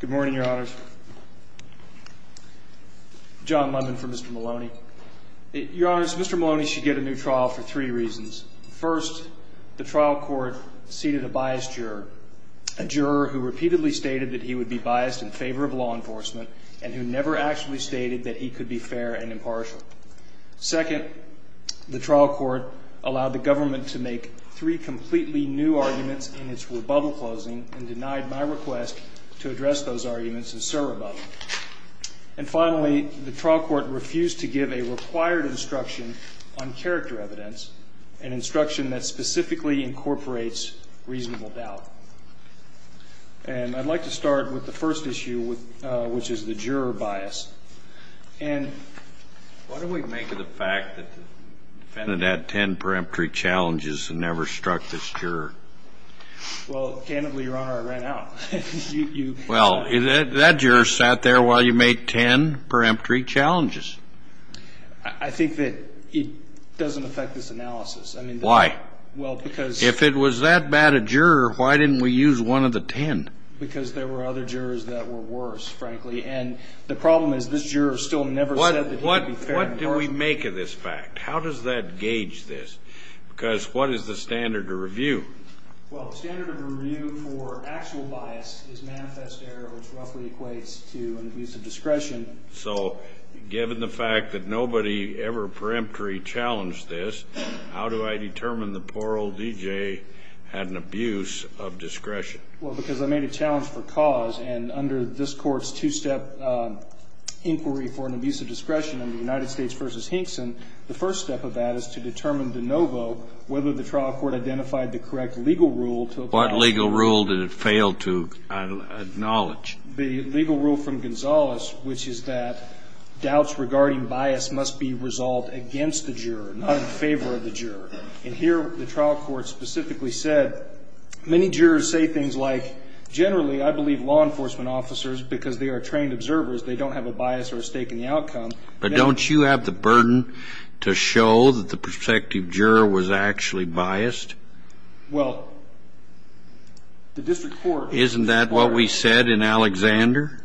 Good morning, your honors. John Lemon for Mr. Maloney. Your honors, Mr. Maloney should get a new trial for three reasons. First, the trial court seated a biased juror, a juror who repeatedly stated that he would be biased in favor of law enforcement and who never actually stated that he could be fair and impartial. Second, the trial court allowed the government to make three completely new arguments in its rebuttal closing and denied my request to make a new trial. And finally, the trial court refused to give a required instruction on character evidence, an instruction that specifically incorporates reasonable doubt. And I'd like to start with the first issue, which is the juror bias. And why don't we make it a fact that the defendant had ten peremptory challenges and never struck this juror? Well, candidly, your honor, I ran out. Well, that juror sat there while you made ten peremptory challenges. I think that it doesn't affect this analysis. Why? Well, because. If it was that bad a juror, why didn't we use one of the ten? Because there were other jurors that were worse, frankly. And the problem is this juror still never said that he would be fair and impartial. What do we make of this fact? How does that gauge this? Because what is the standard of review? Well, the standard of review for actual bias is manifest error, which roughly equates to an abuse of discretion. So given the fact that nobody ever peremptory challenged this, how do I determine the poor old D.J. had an abuse of discretion? Well, because I made a challenge for cause. And under this Court's two-step inquiry for an abuse of discretion in the United States v. Hinkson, the first step of that is to determine de novo whether the trial court identified the correct legal rule to apply. What legal rule did it fail to acknowledge? The legal rule from Gonzales, which is that doubts regarding bias must be resolved against the juror, not in favor of the juror. And here the trial court specifically said, many jurors say things like, generally, I believe law enforcement officers, because they are trained observers, they don't have a bias or a stake in the outcome. But don't you have the burden to show that the protective juror was actually biased? Well, the district court required. Isn't that what we said in Alexander?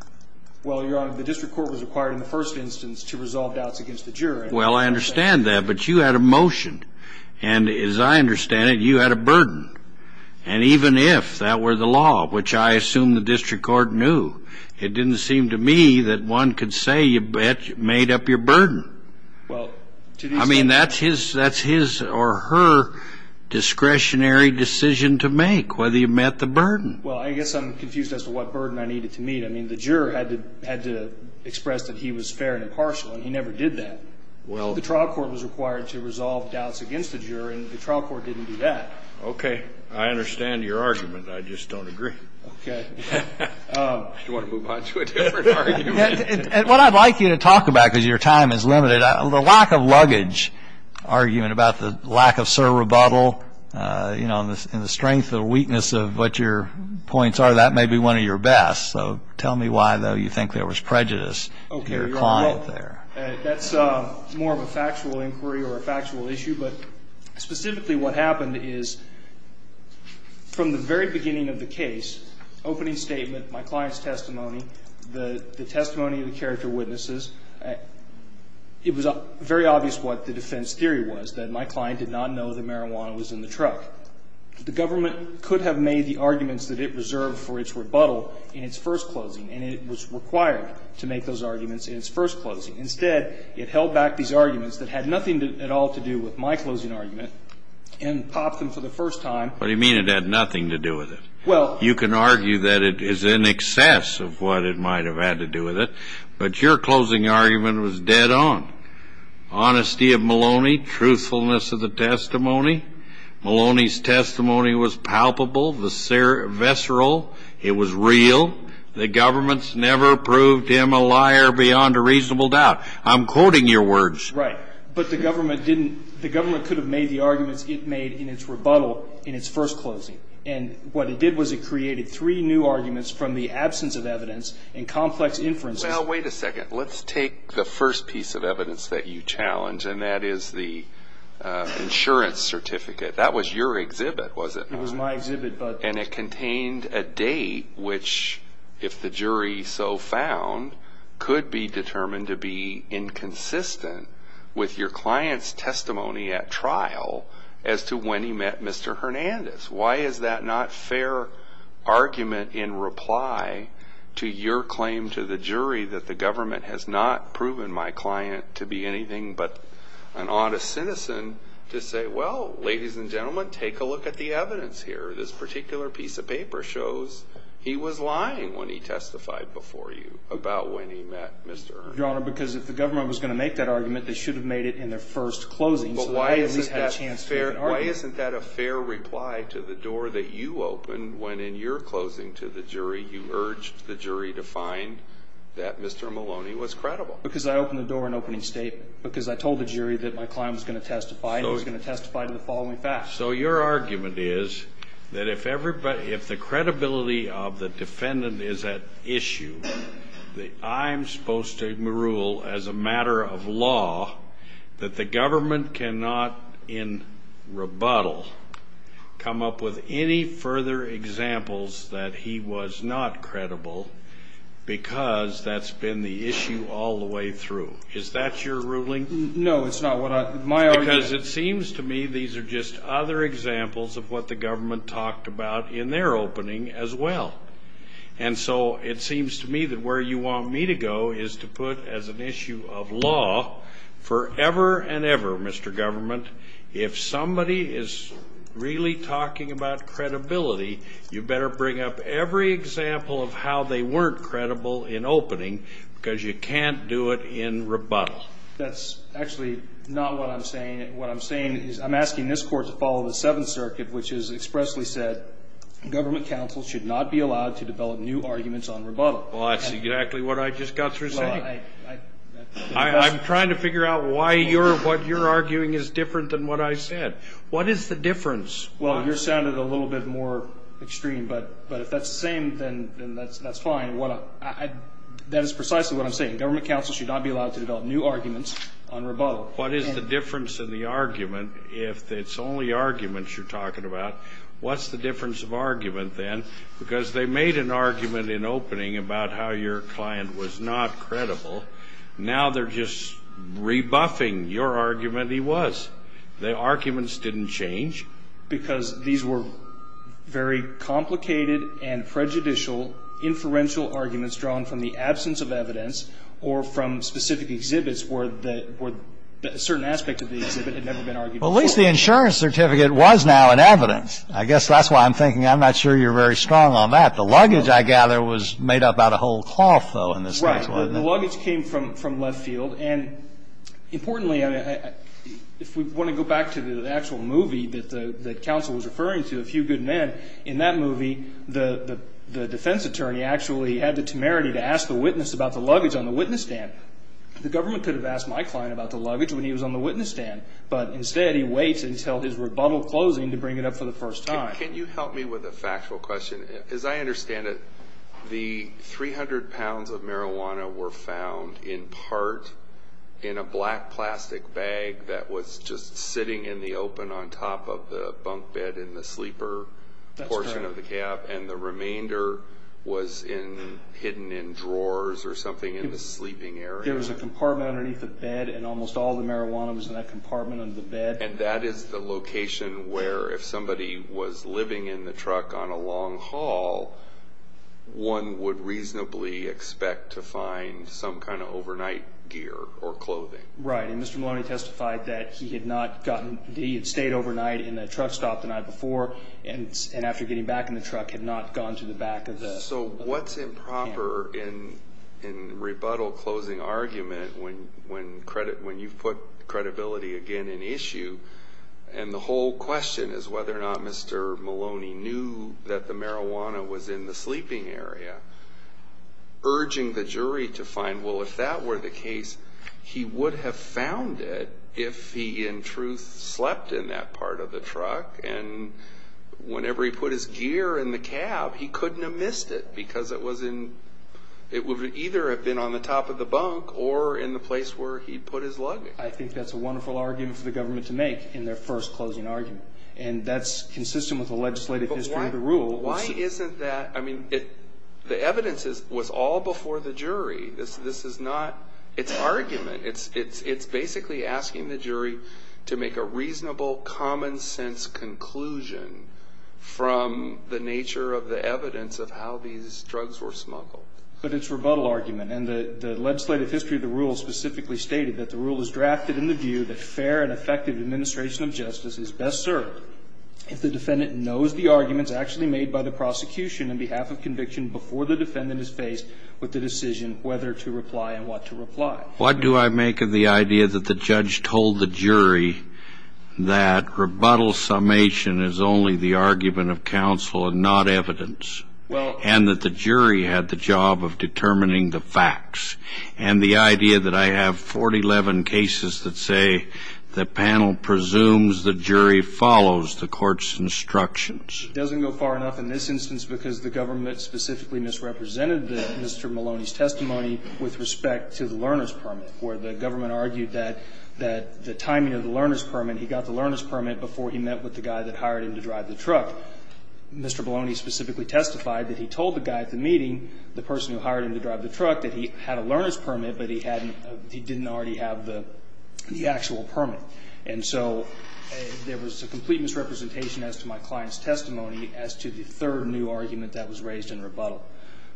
Well, Your Honor, the district court was required in the first instance to resolve doubts against the juror. Well, I understand that. But you had a motion. And as I understand it, you had a burden. And even if that were the law, which I assume the district court knew, it didn't seem to me that one could say you made up your burden. I mean, that's his or her discretionary decision to make, whether you met the burden. Well, I guess I'm confused as to what burden I needed to meet. I mean, the juror had to express that he was fair and impartial, and he never did that. Well, the trial court was required to resolve doubts against the juror, and the trial court didn't do that. Okay. I understand your argument. I just don't agree. Okay. Do you want to move on to a different argument? And what I'd like you to talk about, because your time is limited, the lack of luggage argument about the lack of serve rebuttal, you know, and the strength and the weakness of what your points are, that may be one of your best. So tell me why, though, you think there was prejudice to your client there. That's more of a factual inquiry or a factual issue, but specifically what happened is, from the very beginning of the case, opening statement, my client's testimony, the testimony of the character witnesses, it was very obvious what the defense theory was, that my client did not know that marijuana was in the truck. The government could have made the arguments that it reserved for its rebuttal in its first closing, and it was required to make those arguments in its first closing. Instead, it held back these arguments that had nothing at all to do with my closing argument and popped them for the first time. What do you mean it had nothing to do with it? Well, you can argue that it is in excess of what it might have had to do with it, but your closing argument was dead on. Honesty of Maloney, truthfulness of the testimony. Maloney's testimony was palpable, visceral. It was real. The government's never proved him a liar beyond a reasonable doubt. I'm quoting your words. Right. But the government didn't, the government could have made the arguments it made in its rebuttal in its first closing, and what it did was it created three new arguments from the absence of evidence and complex inferences. Now, wait a second. Let's take the first piece of evidence that you challenge, and that is the insurance certificate. That was your exhibit, was it? It was my exhibit. And it contained a date which, if the jury so found, could be determined to be inconsistent with your client's testimony at trial as to when he met Mr. Hernandez. Why is that not fair argument in reply to your claim to the jury that the government has not proven my client to be anything but an honest citizen to say, well, ladies and gentlemen, take a look at the evidence here. This particular piece of paper shows he was lying when he testified before you about when he met Mr. Hernandez. Your Honor, because if the government was going to make that argument, they should have made it in their first closing so they at least had a chance to make an argument. Why isn't that a fair reply to the door that you opened when, in your closing to the jury, you urged the jury to find that Mr. Maloney was credible? Because I opened the door in opening statement. Because I told the jury that my client was going to testify, and he was going to testify to the following facts. So your argument is that if the credibility of the defendant is at issue, that I'm supposed to rule as a matter of law that the government cannot, in rebuttal, come up with any further examples that he was not credible because that's been the issue all the way through. Is that your ruling? No, it's not. Because it seems to me these are just other examples of what the government talked about in their opening as well. And so it seems to me that where you want me to go is to put as an issue of somebody is really talking about credibility, you better bring up every example of how they weren't credible in opening because you can't do it in rebuttal. That's actually not what I'm saying. What I'm saying is I'm asking this Court to follow the Seventh Circuit, which has expressly said government counsel should not be allowed to develop new arguments on rebuttal. Well, that's exactly what I just got through saying. I'm trying to figure out why what you're arguing is different than what I said. What is the difference? Well, yours sounded a little bit more extreme. But if that's the same, then that's fine. That is precisely what I'm saying. Government counsel should not be allowed to develop new arguments on rebuttal. What is the difference in the argument if it's only arguments you're talking about? What's the difference of argument then? Because they made an argument in opening about how your client was not credible. Now they're just rebuffing your argument he was. The arguments didn't change. Because these were very complicated and prejudicial inferential arguments drawn from the absence of evidence or from specific exhibits where a certain aspect of the exhibit had never been argued before. Well, at least the insurance certificate was now an evidence. I guess that's why I'm thinking I'm not sure you're very strong on that. The luggage, I gather, was made up out of whole cloth, though, in this case, wasn't it? Right. The luggage came from left field. And importantly, if we want to go back to the actual movie that counsel was referring to, A Few Good Men, in that movie, the defense attorney actually had the temerity to ask the witness about the luggage on the witness stand. The government could have asked my client about the luggage when he was on the witness But instead, he waits until his rebuttal closing to bring it up for the first time. Can you help me with a factual question? As I understand it, the 300 pounds of marijuana were found in part in a black plastic bag that was just sitting in the open on top of the bunk bed in the sleeper portion of the cab. That's correct. And the remainder was hidden in drawers or something in the sleeping area. There was a compartment underneath the bed, and almost all the marijuana was in that compartment under the bed. And that is the location where, if somebody was living in the truck on a long haul, one would reasonably expect to find some kind of overnight gear or clothing. Right. And Mr. Maloney testified that he had stayed overnight in the truck stop the night before, and after getting back in the truck, had not gone to the back of the cab. So what's improper in rebuttal closing argument when you've put credibility again in issue, and the whole question is whether or not Mr. Maloney knew that the marijuana was in the sleeping area, urging the jury to find, well, if that were the case, he would have found it if he, in truth, slept in that part of the truck. And whenever he put his gear in the cab, he couldn't have missed it, because it would either have been on the top of the bunk or in the place where he put his luggage. I think that's a wonderful argument for the government to make in their first closing argument. And that's consistent with the legislative history of the rule. But why isn't that? I mean, the evidence was all before the jury. This is not its argument. It's basically asking the jury to make a reasonable, common-sense conclusion from the nature of the evidence of how these drugs were smuggled. But it's rebuttal argument, and the legislative history of the rule specifically stated that the rule is drafted in the view that fair and effective administration of justice is best served if the defendant knows the arguments actually made by the prosecution in behalf of conviction before the defendant is faced with the decision whether to reply and what to reply. What do I make of the idea that the judge told the jury that rebuttal summation is only the argument of counsel and not evidence, and that the jury had the job of determining the facts, and the idea that I have 411 cases that say the panel presumes the jury follows the court's instructions? It doesn't go far enough in this instance because the government specifically misrepresented Mr. Maloney's testimony with respect to the learner's permit, where the government argued that the timing of the learner's permit, he got the learner's permit before he met with the guy that hired him to drive the truck. Mr. Maloney specifically testified that he told the guy at the meeting, the person who hired him to drive the truck, that he had a learner's permit, but he didn't already have the actual permit. And so there was a complete misrepresentation as to my client's testimony as to the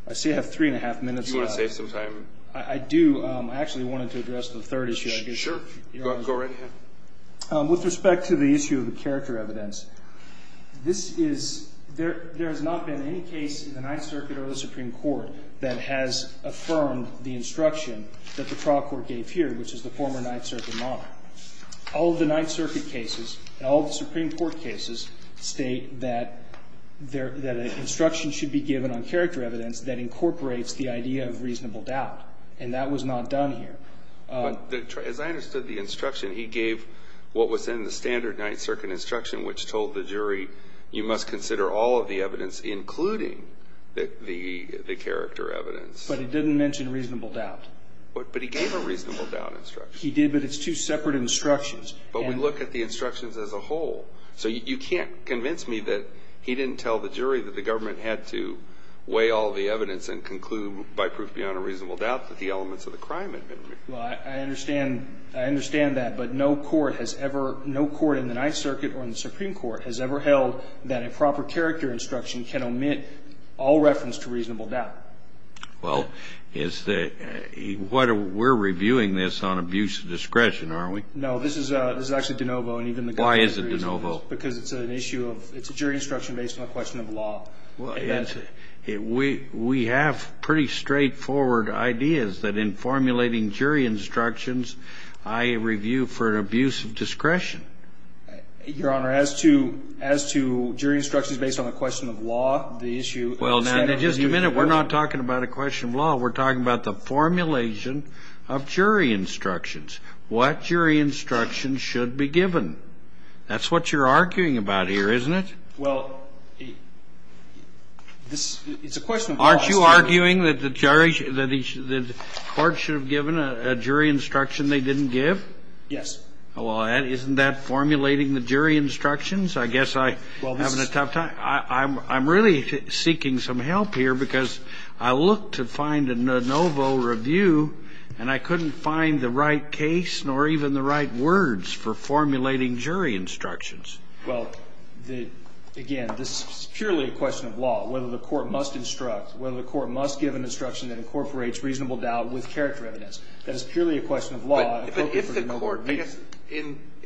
I see I have three and a half minutes left. Do you want to save some time? I do. I actually wanted to address the third issue. Sure. Go right ahead. With respect to the issue of the character evidence, this is – there has not been any case in the Ninth Circuit or the Supreme Court that has affirmed the instruction that the trial court gave here, which is the former Ninth Circuit model. All of the Ninth Circuit cases and all of the Supreme Court cases state that there – that an instruction should be given on character evidence that incorporates the idea of reasonable doubt. And that was not done here. But as I understood the instruction, he gave what was in the standard Ninth Circuit instruction, which told the jury you must consider all of the evidence, including the character evidence. But he didn't mention reasonable doubt. But he gave a reasonable doubt instruction. He did, but it's two separate instructions. But we look at the instructions as a whole. So you can't convince me that he didn't tell the jury that the government had to weigh all the evidence and conclude by proof beyond a reasonable doubt that the elements of the crime had been removed. Well, I understand that. But no court has ever – no court in the Ninth Circuit or in the Supreme Court has ever held that a proper character instruction can omit all reference to reasonable doubt. Well, is the – we're reviewing this on abuse of discretion, aren't we? No, this is actually de novo. Why is it de novo? Because it's an issue of – it's a jury instruction based on a question of law. We have pretty straightforward ideas that in formulating jury instructions, I review for an abuse of discretion. Your Honor, as to jury instructions based on a question of law, the issue – Well, now, just a minute. We're not talking about a question of law. We're talking about the formulation of jury instructions. What jury instruction should be given? That's what you're arguing about here, isn't it? Well, it's a question of law. Aren't you arguing that the jury – that the court should have given a jury instruction they didn't give? Yes. Well, isn't that formulating the jury instructions? I guess I'm having a tough time. I'm really seeking some help here because I looked to find a de novo review and I couldn't find the right case nor even the right words for formulating jury instructions. Well, again, this is purely a question of law, whether the court must instruct, whether the court must give an instruction that incorporates reasonable doubt with character evidence. That is purely a question of law. But if the court – I guess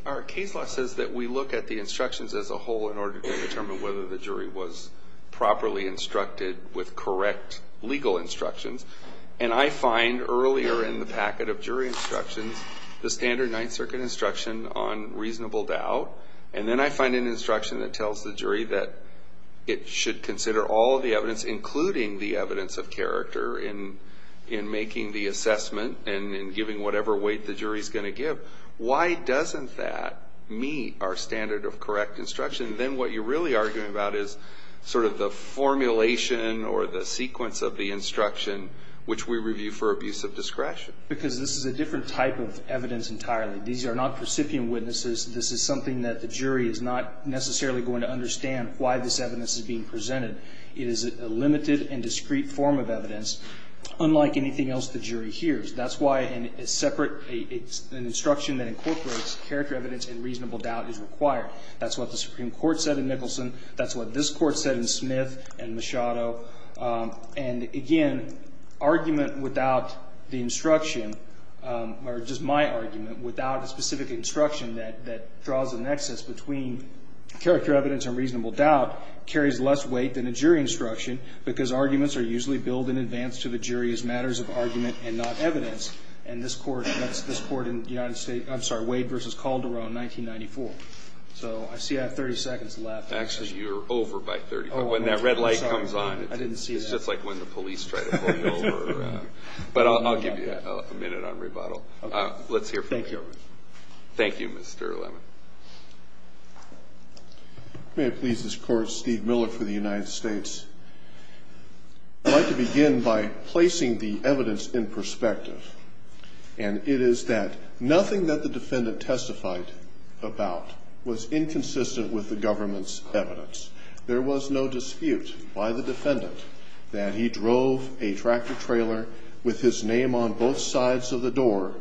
our case law says that we look at the instructions as a whole in order to determine whether the jury was properly instructed with correct legal instructions. And I find earlier in the packet of jury instructions the standard Ninth Circuit instruction on reasonable doubt. And then I find an instruction that tells the jury that it should consider all of the evidence, including the evidence of character in making the assessment and in giving whatever weight the jury is going to give. Why doesn't that meet our standard of correct instruction? Then what you're really arguing about is sort of the formulation or the sequence of the instruction which we review for abuse of discretion. Because this is a different type of evidence entirely. These are not recipient witnesses. This is something that the jury is not necessarily going to understand why this evidence is being presented. It is a limited and discrete form of evidence, unlike anything else the jury hears. That's why a separate – an instruction that incorporates character evidence and reasonable doubt is required. That's what the Supreme Court said in Nicholson. That's what this Court said in Smith and Machado. And, again, argument without the instruction, or just my argument, without a specific instruction that draws a nexus between character evidence and reasonable doubt carries less weight than a jury instruction because arguments are usually billed in advance to the jury as matters of argument and not evidence. And this Court in the United States – I'm sorry, Wade v. Calderon, 1994. So I see I have 30 seconds left. Actually, you're over by 30. When that red light comes on, it's just like when the police try to pull you over. But I'll give you a minute on rebuttal. Let's hear from you. Thank you, Your Honor. Thank you, Mr. Lemon. May it please this Court, Steve Miller for the United States. I'd like to begin by placing the evidence in perspective. And it is that nothing that the defendant testified about was inconsistent with the government's evidence. There was no dispute by the defendant that he drove a tractor trailer with his name on both sides of the door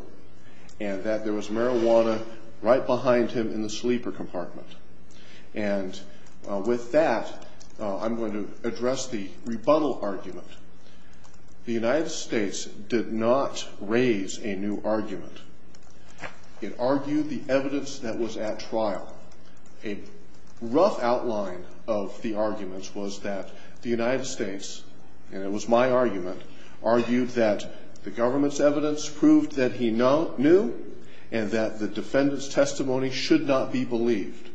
and that there was marijuana right behind him in the sleeper compartment. And with that, I'm going to address the rebuttal argument. The United States did not raise a new argument. It argued the evidence that was at trial. A rough outline of the arguments was that the United States, and it was my argument, argued that the government's evidence proved that he knew and that the defendant's testimony should not be believed.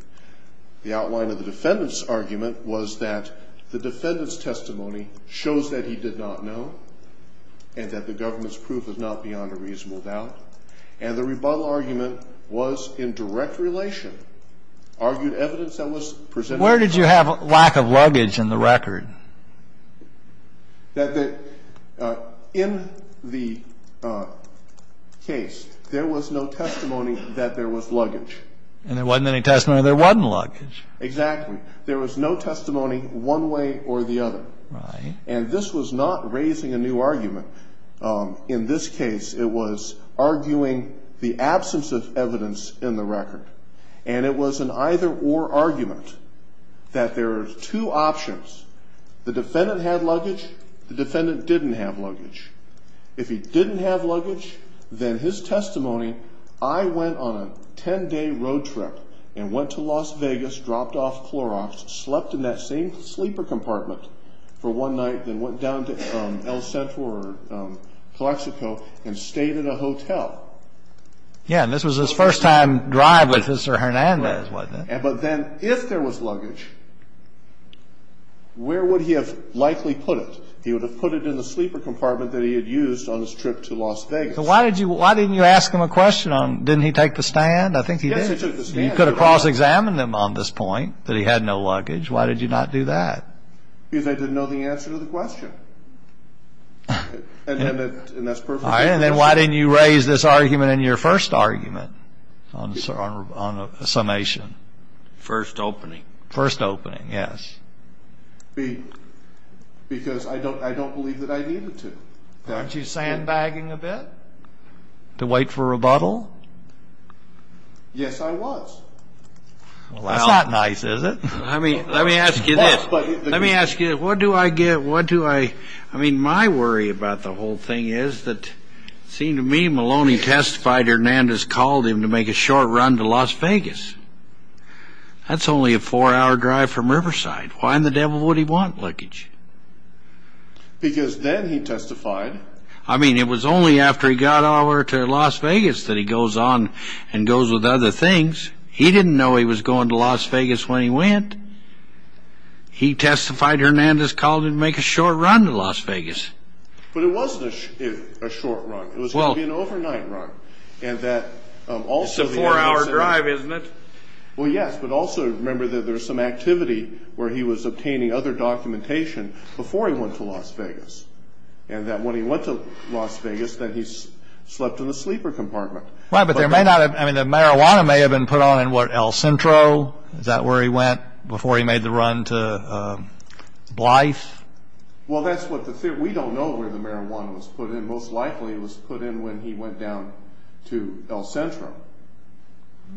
The outline of the defendant's argument was that the defendant's testimony shows that he did not know and that the government's proof is not beyond a reasonable doubt. And the rebuttal argument was in direct relation, argued evidence that was presented. Where did you have lack of luggage in the record? In the case, there was no testimony that there was luggage. And there wasn't any testimony there wasn't luggage. Exactly. There was no testimony one way or the other. Right. And this was not raising a new argument. In this case, it was arguing the absence of evidence in the record. And it was an either-or argument that there are two options. The defendant had luggage. The defendant didn't have luggage. If he didn't have luggage, then his testimony, I went on a 10-day road trip and went to Las Vegas, dropped off Clorox, slept in that same sleeper compartment for one night, then went down to El Centro or Calexico and stayed in a hotel. Yeah. And this was his first-time drive with Mr. Hernandez, wasn't it? Right. But then if there was luggage, where would he have likely put it? He would have put it in the sleeper compartment that he had used on his trip to Las Vegas. So why didn't you ask him a question on didn't he take the stand? I think he did. Yes, he took the stand. You could have cross-examined him on this point that he had no luggage. Why did you not do that? Because I didn't know the answer to the question, and that's perfectly possible. All right. And then why didn't you raise this argument in your first argument on a summation? First opening. First opening, yes. Because I don't believe that I needed to. Weren't you sandbagging a bit to wait for rebuttal? Yes, I was. Well, that's not nice, is it? Let me ask you this. Let me ask you, what do I get? I mean, my worry about the whole thing is that it seemed to me Maloney testified Hernandez called him to make a short run to Las Vegas. That's only a four-hour drive from Riverside. Why in the devil would he want luggage? Because then he testified. I mean, it was only after he got over to Las Vegas that he goes on and goes with other things. He didn't know he was going to Las Vegas when he went. He testified Hernandez called him to make a short run to Las Vegas. But it wasn't a short run. It was going to be an overnight run. It's a four-hour drive, isn't it? Well, yes, but also remember that there was some activity where he was obtaining other documentation before he went to Las Vegas, and that when he went to Las Vegas, then he slept in the sleeper compartment. Right, but the marijuana may have been put on in El Centro. Is that where he went before he made the run to Blythe? Well, we don't know where the marijuana was put in. Most likely it was put in when he went down to El Centro.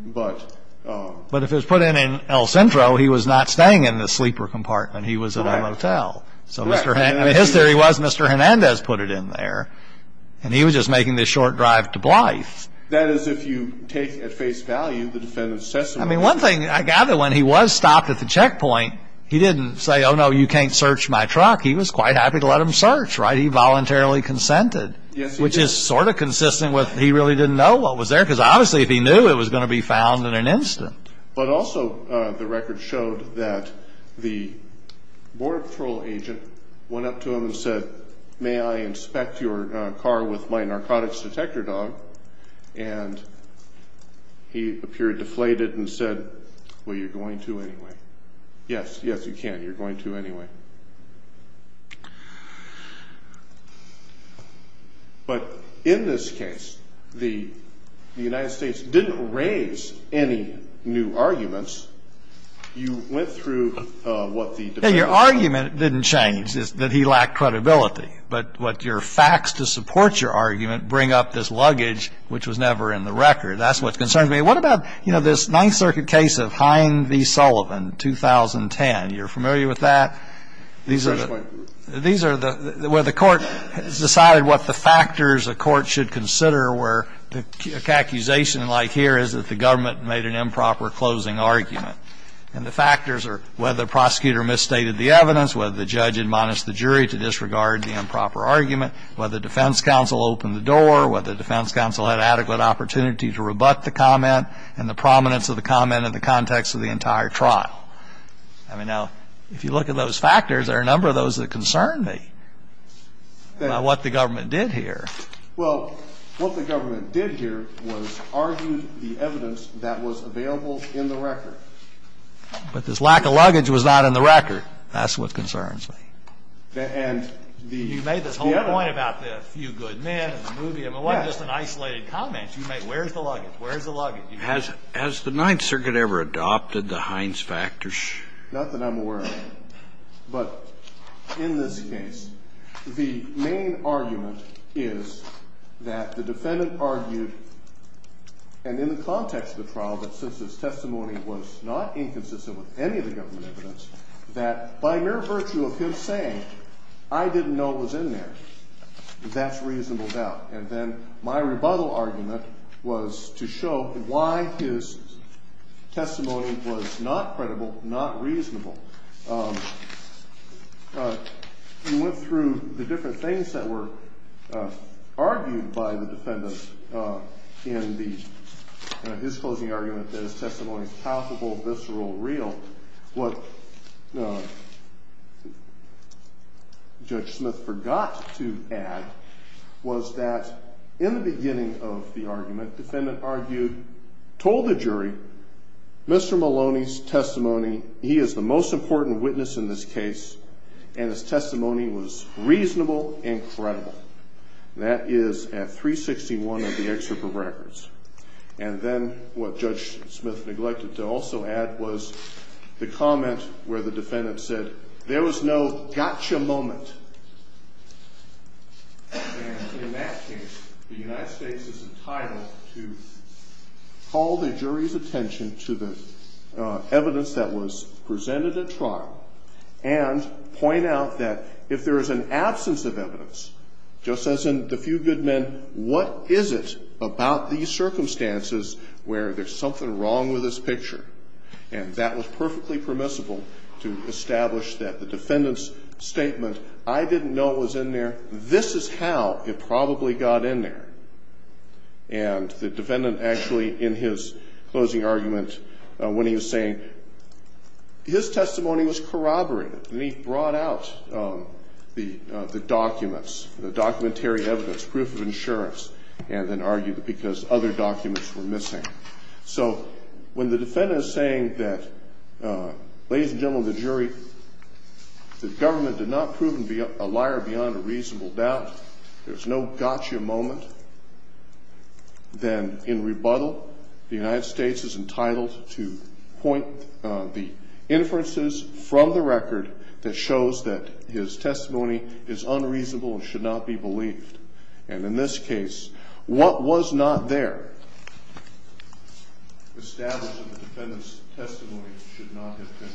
But if it was put in in El Centro, he was not staying in the sleeper compartment. He was in a motel. His theory was Mr. Hernandez put it in there, and he was just making this short drive to Blythe. That is if you take at face value the defendant's testimony. I mean, one thing I gather when he was stopped at the checkpoint, he didn't say, oh, no, you can't search my truck. He was quite happy to let them search, right? He voluntarily consented, which is sort of consistent with he really didn't know what was there because obviously if he knew, it was going to be found in an instant. But also the record showed that the Border Patrol agent went up to him and said, may I inspect your car with my narcotics detector dog? And he appeared deflated and said, well, you're going to anyway. Yes, yes, you can. You're going to anyway. But in this case, the United States didn't raise any new arguments. You went through what the defendant said. It didn't change, that he lacked credibility. But what your facts to support your argument bring up this luggage, which was never in the record. That's what concerns me. What about, you know, this Ninth Circuit case of Hine v. Sullivan, 2010? You're familiar with that? These are the – where the court has decided what the factors a court should consider where the accusation like here is that the government made an improper closing argument. And the factors are whether the prosecutor misstated the evidence, whether the judge admonished the jury to disregard the improper argument, whether defense counsel opened the door, whether defense counsel had adequate opportunity to rebut the comment, and the prominence of the comment in the context of the entire trial. I mean, now, if you look at those factors, there are a number of those that concern me about what the government did here. Well, what the government did here was argue the evidence that was available in the record. But this lack of luggage was not in the record. That's what concerns me. And the – You made this whole point about the few good men and the movie. Yes. I mean, it wasn't just an isolated comment. You made, where's the luggage? Where's the luggage? Has the Ninth Circuit ever adopted the Hines factors? Not that I'm aware of. But in this case, the main argument is that the defendant argued, and in the context of the trial, that since his testimony was not inconsistent with any of the government evidence, that by mere virtue of him saying, I didn't know it was in there, that's reasonable doubt. And then my rebuttal argument was to show why his testimony was not credible, not reasonable. We went through the different things that were argued by the defendant in his closing argument that his testimony is palpable, visceral, real. What Judge Smith forgot to add was that in the beginning of the argument, the defendant argued, told the jury, Mr. Maloney's testimony, he is the most important witness in this case, and his testimony was reasonable and credible. That is at 361 of the excerpt of records. And then what Judge Smith neglected to also add was the comment where the defendant said, there was no gotcha moment. And in that case, the United States is entitled to call the jury's attention to the evidence that was presented at trial and point out that if there is an absence of evidence, just as in the few good men, what is it about these circumstances where there's something wrong with this picture? And that was perfectly permissible to establish that the defendant's statement, I didn't know it was in there, this is how it probably got in there. And the defendant actually, in his closing argument, when he was saying, his testimony was corroborated, and he brought out the documents, the documentary evidence, proof of insurance, and then argued because other documents were missing. So when the defendant is saying that, ladies and gentlemen of the jury, the government did not prove a liar beyond a reasonable doubt, there's no gotcha moment, then in rebuttal, the United States is entitled to point the inferences from the record that shows that his testimony is unreasonable and should not be believed. And in this case, what was not there established in the defendant's testimony should not have been.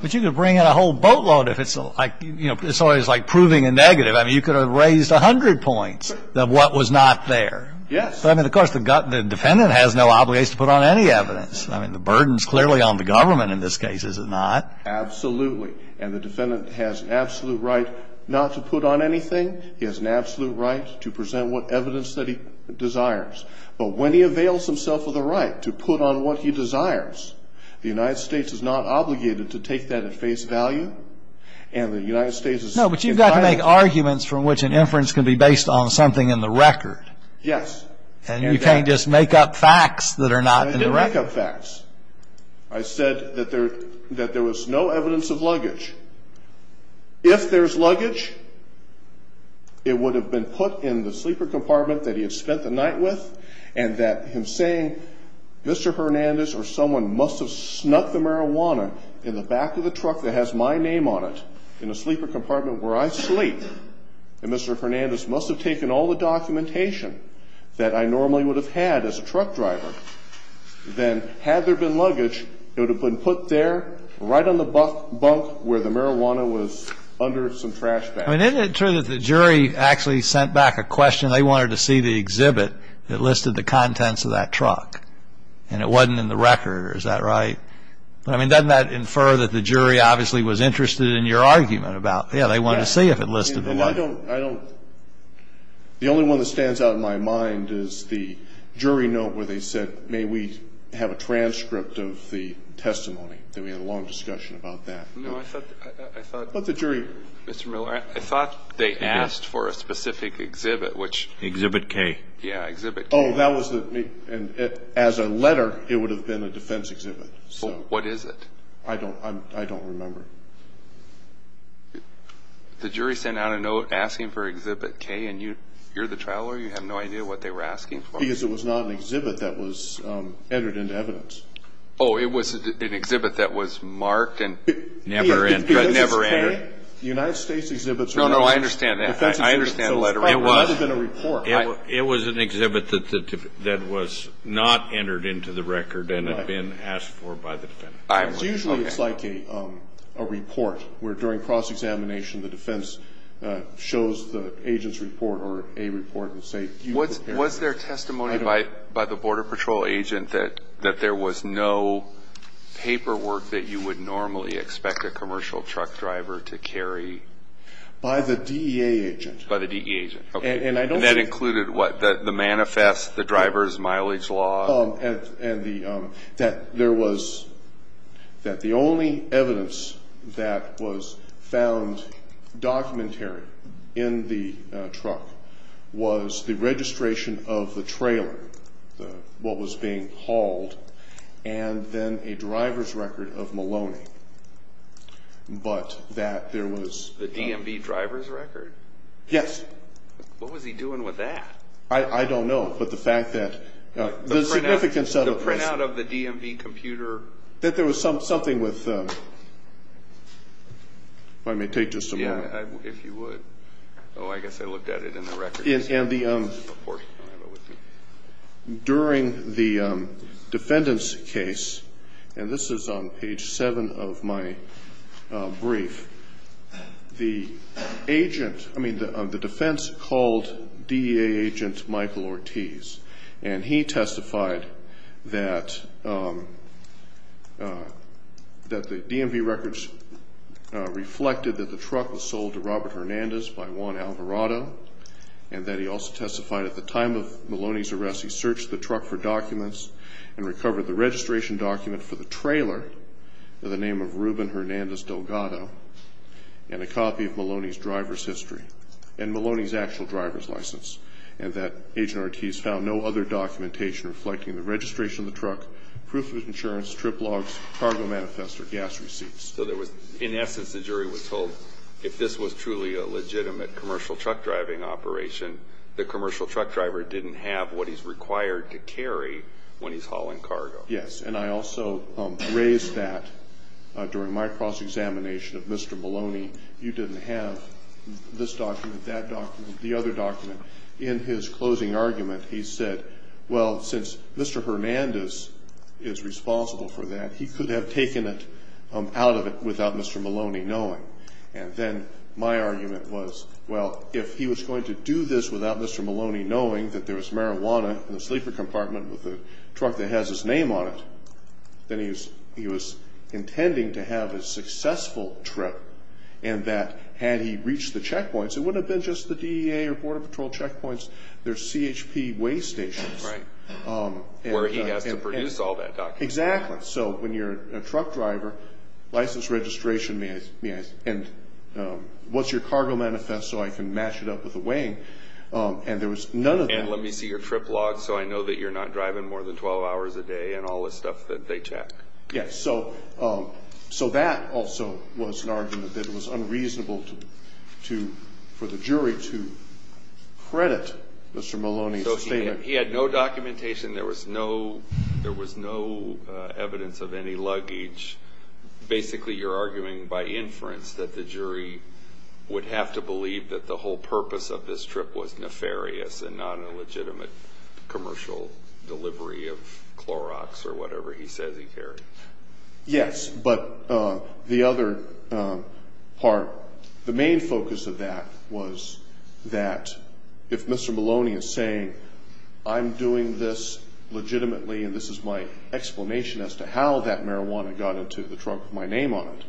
But you could bring in a whole boatload if it's like, you know, it's always like proving a negative. I mean, you could have raised 100 points of what was not there. Yes. I mean, of course, the defendant has no obligation to put on any evidence. I mean, the burden is clearly on the government in this case, is it not? Absolutely. And the defendant has absolute right not to put on anything. He has an absolute right to present what evidence that he desires. But when he avails himself of the right to put on what he desires, the United States is not obligated to take that at face value. And the United States is entitled to. No, but you've got to make arguments from which an inference can be based on something in the record. Yes. And you can't just make up facts that are not in the record. I didn't make up facts. I said that there was no evidence of luggage. If there's luggage, it would have been put in the sleeper compartment that he had spent the night with and that him saying Mr. Hernandez or someone must have snuck the marijuana in the back of the truck that has my name on it in the sleeper compartment where I sleep and Mr. Hernandez must have taken all the documentation that I normally would have had as a truck driver, then had there been luggage, it would have been put there right on the bunk where the marijuana was under some trash bags. I mean, isn't it true that the jury actually sent back a question? They wanted to see the exhibit that listed the contents of that truck. And it wasn't in the record. Is that right? I mean, doesn't that infer that the jury obviously was interested in your argument about, yeah, they wanted to see if it listed or not? I don't. The only one that stands out in my mind is the jury note where they said, may we have a transcript of the testimony. Then we had a long discussion about that. No, I thought. But the jury. Mr. Miller, I thought they asked for a specific exhibit, which. Exhibit K. Yeah, exhibit K. Oh, that was. And as a letter, it would have been a defense exhibit. What is it? I don't remember. The jury sent out a note asking for exhibit K, and you're the traveler. You have no idea what they were asking for. Because it was not an exhibit that was entered into evidence. Oh, it was an exhibit that was marked and never entered. The United States exhibits. No, no, I understand that. I understand the letter. It was. It would have been a report. It was an exhibit that was not entered into the record and had been asked for by the defense. Usually it's like a report where during cross-examination the defense shows the agent's report or a report and say. Was there testimony by the border patrol agent that there was no paperwork that you would normally expect a commercial truck driver to carry? By the DEA agent. By the DEA agent. Okay. And I don't think. And that included what? The manifest, the driver's mileage log. And that there was, that the only evidence that was found documentary in the truck was the registration of the trailer, what was being hauled, and then a driver's record of Maloney. But that there was. The DMV driver's record? Yes. What was he doing with that? I don't know, but the fact that. The printout of the DMV computer. That there was something with. If I may take just a moment. Yeah, if you would. Oh, I guess I looked at it in the records. And the. During the defendant's case, and this is on page seven of my brief, the agent, I mean the defense called DEA agent Michael Ortiz. And he testified that the DMV records reflected that the truck was sold to Robert Hernandez by Juan Alvarado. And that he also testified at the time of Maloney's arrest, he searched the truck for documents. And recovered the registration document for the trailer for the name of Ruben Hernandez Delgado. And a copy of Maloney's driver's history. And Maloney's actual driver's license. And that agent Ortiz found no other documentation reflecting the registration of the truck, proof of insurance, trip logs, cargo manifest, or gas receipts. So there was, in essence, the jury was told, if this was truly a legitimate commercial truck driving operation, the commercial truck driver didn't have what he's required to carry when he's hauling cargo. Yes, and I also raised that during my cross-examination of Mr. Maloney. You didn't have this document, that document, the other document. In his closing argument, he said, well, since Mr. Hernandez is responsible for that, he could have taken it out of it without Mr. Maloney knowing. And then my argument was, well, if he was going to do this without Mr. Maloney knowing that there was marijuana in the sleeper compartment with a truck that has his name on it, then he was intending to have a successful trip. And that had he reached the checkpoints, it wouldn't have been just the DEA or Border Patrol checkpoints, there's CHP weigh stations. Right. Where he has to produce all that document. Exactly. So when you're a truck driver, license registration, and what's your cargo manifest so I can match it up with the weighing. And there was none of that. And let me see your trip log so I know that you're not driving more than 12 hours a day and all the stuff that they check. Yes. So that also was an argument that it was unreasonable for the jury to credit Mr. Maloney's statement. He had no documentation, there was no evidence of any luggage. Basically you're arguing by inference that the jury would have to believe that the whole purpose of this trip was nefarious and not a legitimate commercial delivery of Clorox or whatever he says he carried. Yes, but the other part, the main focus of that was that if Mr. Maloney is saying I'm doing this legitimately and this is my explanation as to how that marijuana got into the trunk of my name on it,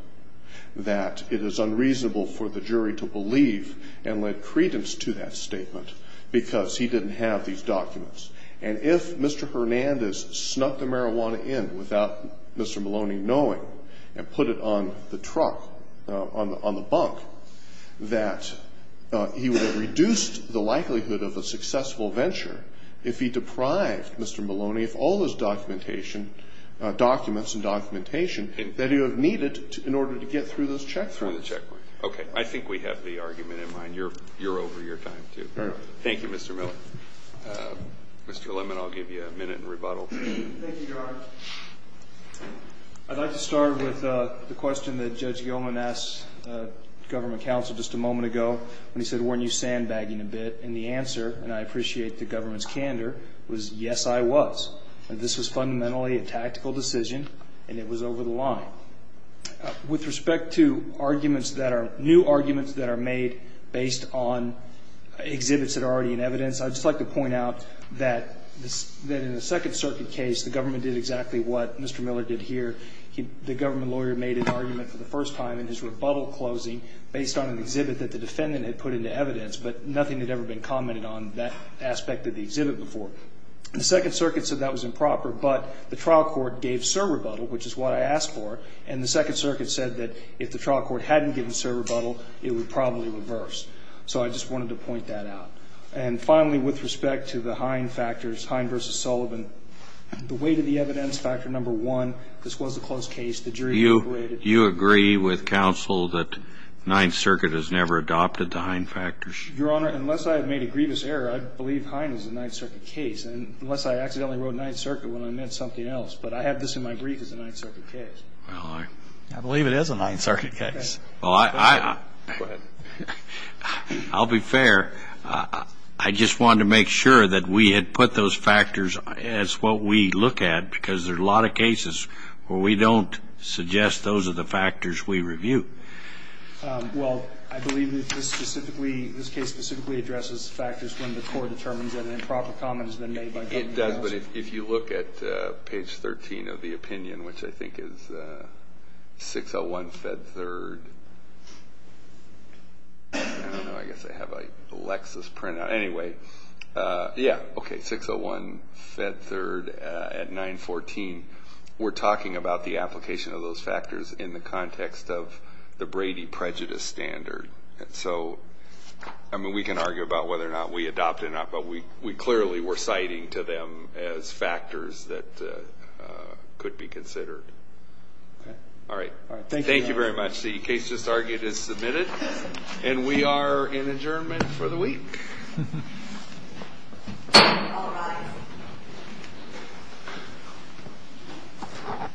that it is unreasonable for the jury to believe and lend credence to that statement because he didn't have these documents. And if Mr. Hernandez snuck the marijuana in without Mr. Maloney knowing and put it on the truck, on the bunk, that he would have reduced the likelihood of a successful venture if he deprived Mr. Maloney of all his documentation, documents and documentation that he would have needed in order to get through this check point. Through the check point. Okay. I think we have the argument in mind. You're over your time, too. Very well. Thank you, Mr. Miller. Mr. Lemon, I'll give you a minute in rebuttal. Thank you, Your Honor. I'd like to start with the question that Judge Gilman asked government counsel just a moment ago when he said, weren't you sandbagging a bit? And the answer, and I appreciate the government's candor, was yes, I was. This was fundamentally a tactical decision and it was over the line. With respect to arguments that are, new arguments that are made based on exhibits that are already in evidence, I'd just like to point out that in the Second Circuit case, the government did exactly what Mr. Miller did here. The government lawyer made an argument for the first time in his rebuttal closing based on an exhibit that the defendant had put into evidence, but nothing had ever been commented on that aspect of the exhibit before. The Second Circuit said that was improper, but the trial court gave surrebuttal, which is what I asked for, and the Second Circuit said that if the trial court hadn't given surrebuttal, it would probably reverse. So I just wanted to point that out. And finally, with respect to the Hine factors, Hine v. Sullivan, the weight of the evidence factor number one, this was a closed case. The jury operated. You agree with counsel that Ninth Circuit has never adopted the Hine factors? Your Honor, unless I had made a grievous error, I believe Hine is a Ninth Circuit case, unless I accidentally wrote Ninth Circuit when I meant something else. But I have this in my brief as a Ninth Circuit case. Well, I believe it is a Ninth Circuit case. Well, I'll be fair. I just wanted to make sure that we had put those factors as what we look at, because there are a lot of cases where we don't suggest those are the factors we review. Well, I believe that this specifically, this case specifically addresses factors when the court determines that an improper comment has been made by government counsel. It does, but if you look at page 13 of the opinion, which I think is 601 Fed 3rd, I don't know, I guess I have a Lexis printout. Anyway, yeah, okay, 601 Fed 3rd at 914. We're talking about the application of those factors in the context of the Brady prejudice standard. So, I mean, we can argue about whether or not we adopted it or not, but we clearly were citing to them as factors that could be considered. All right. Thank you very much. The case just argued is submitted, and we are in adjournment for the week. All rise.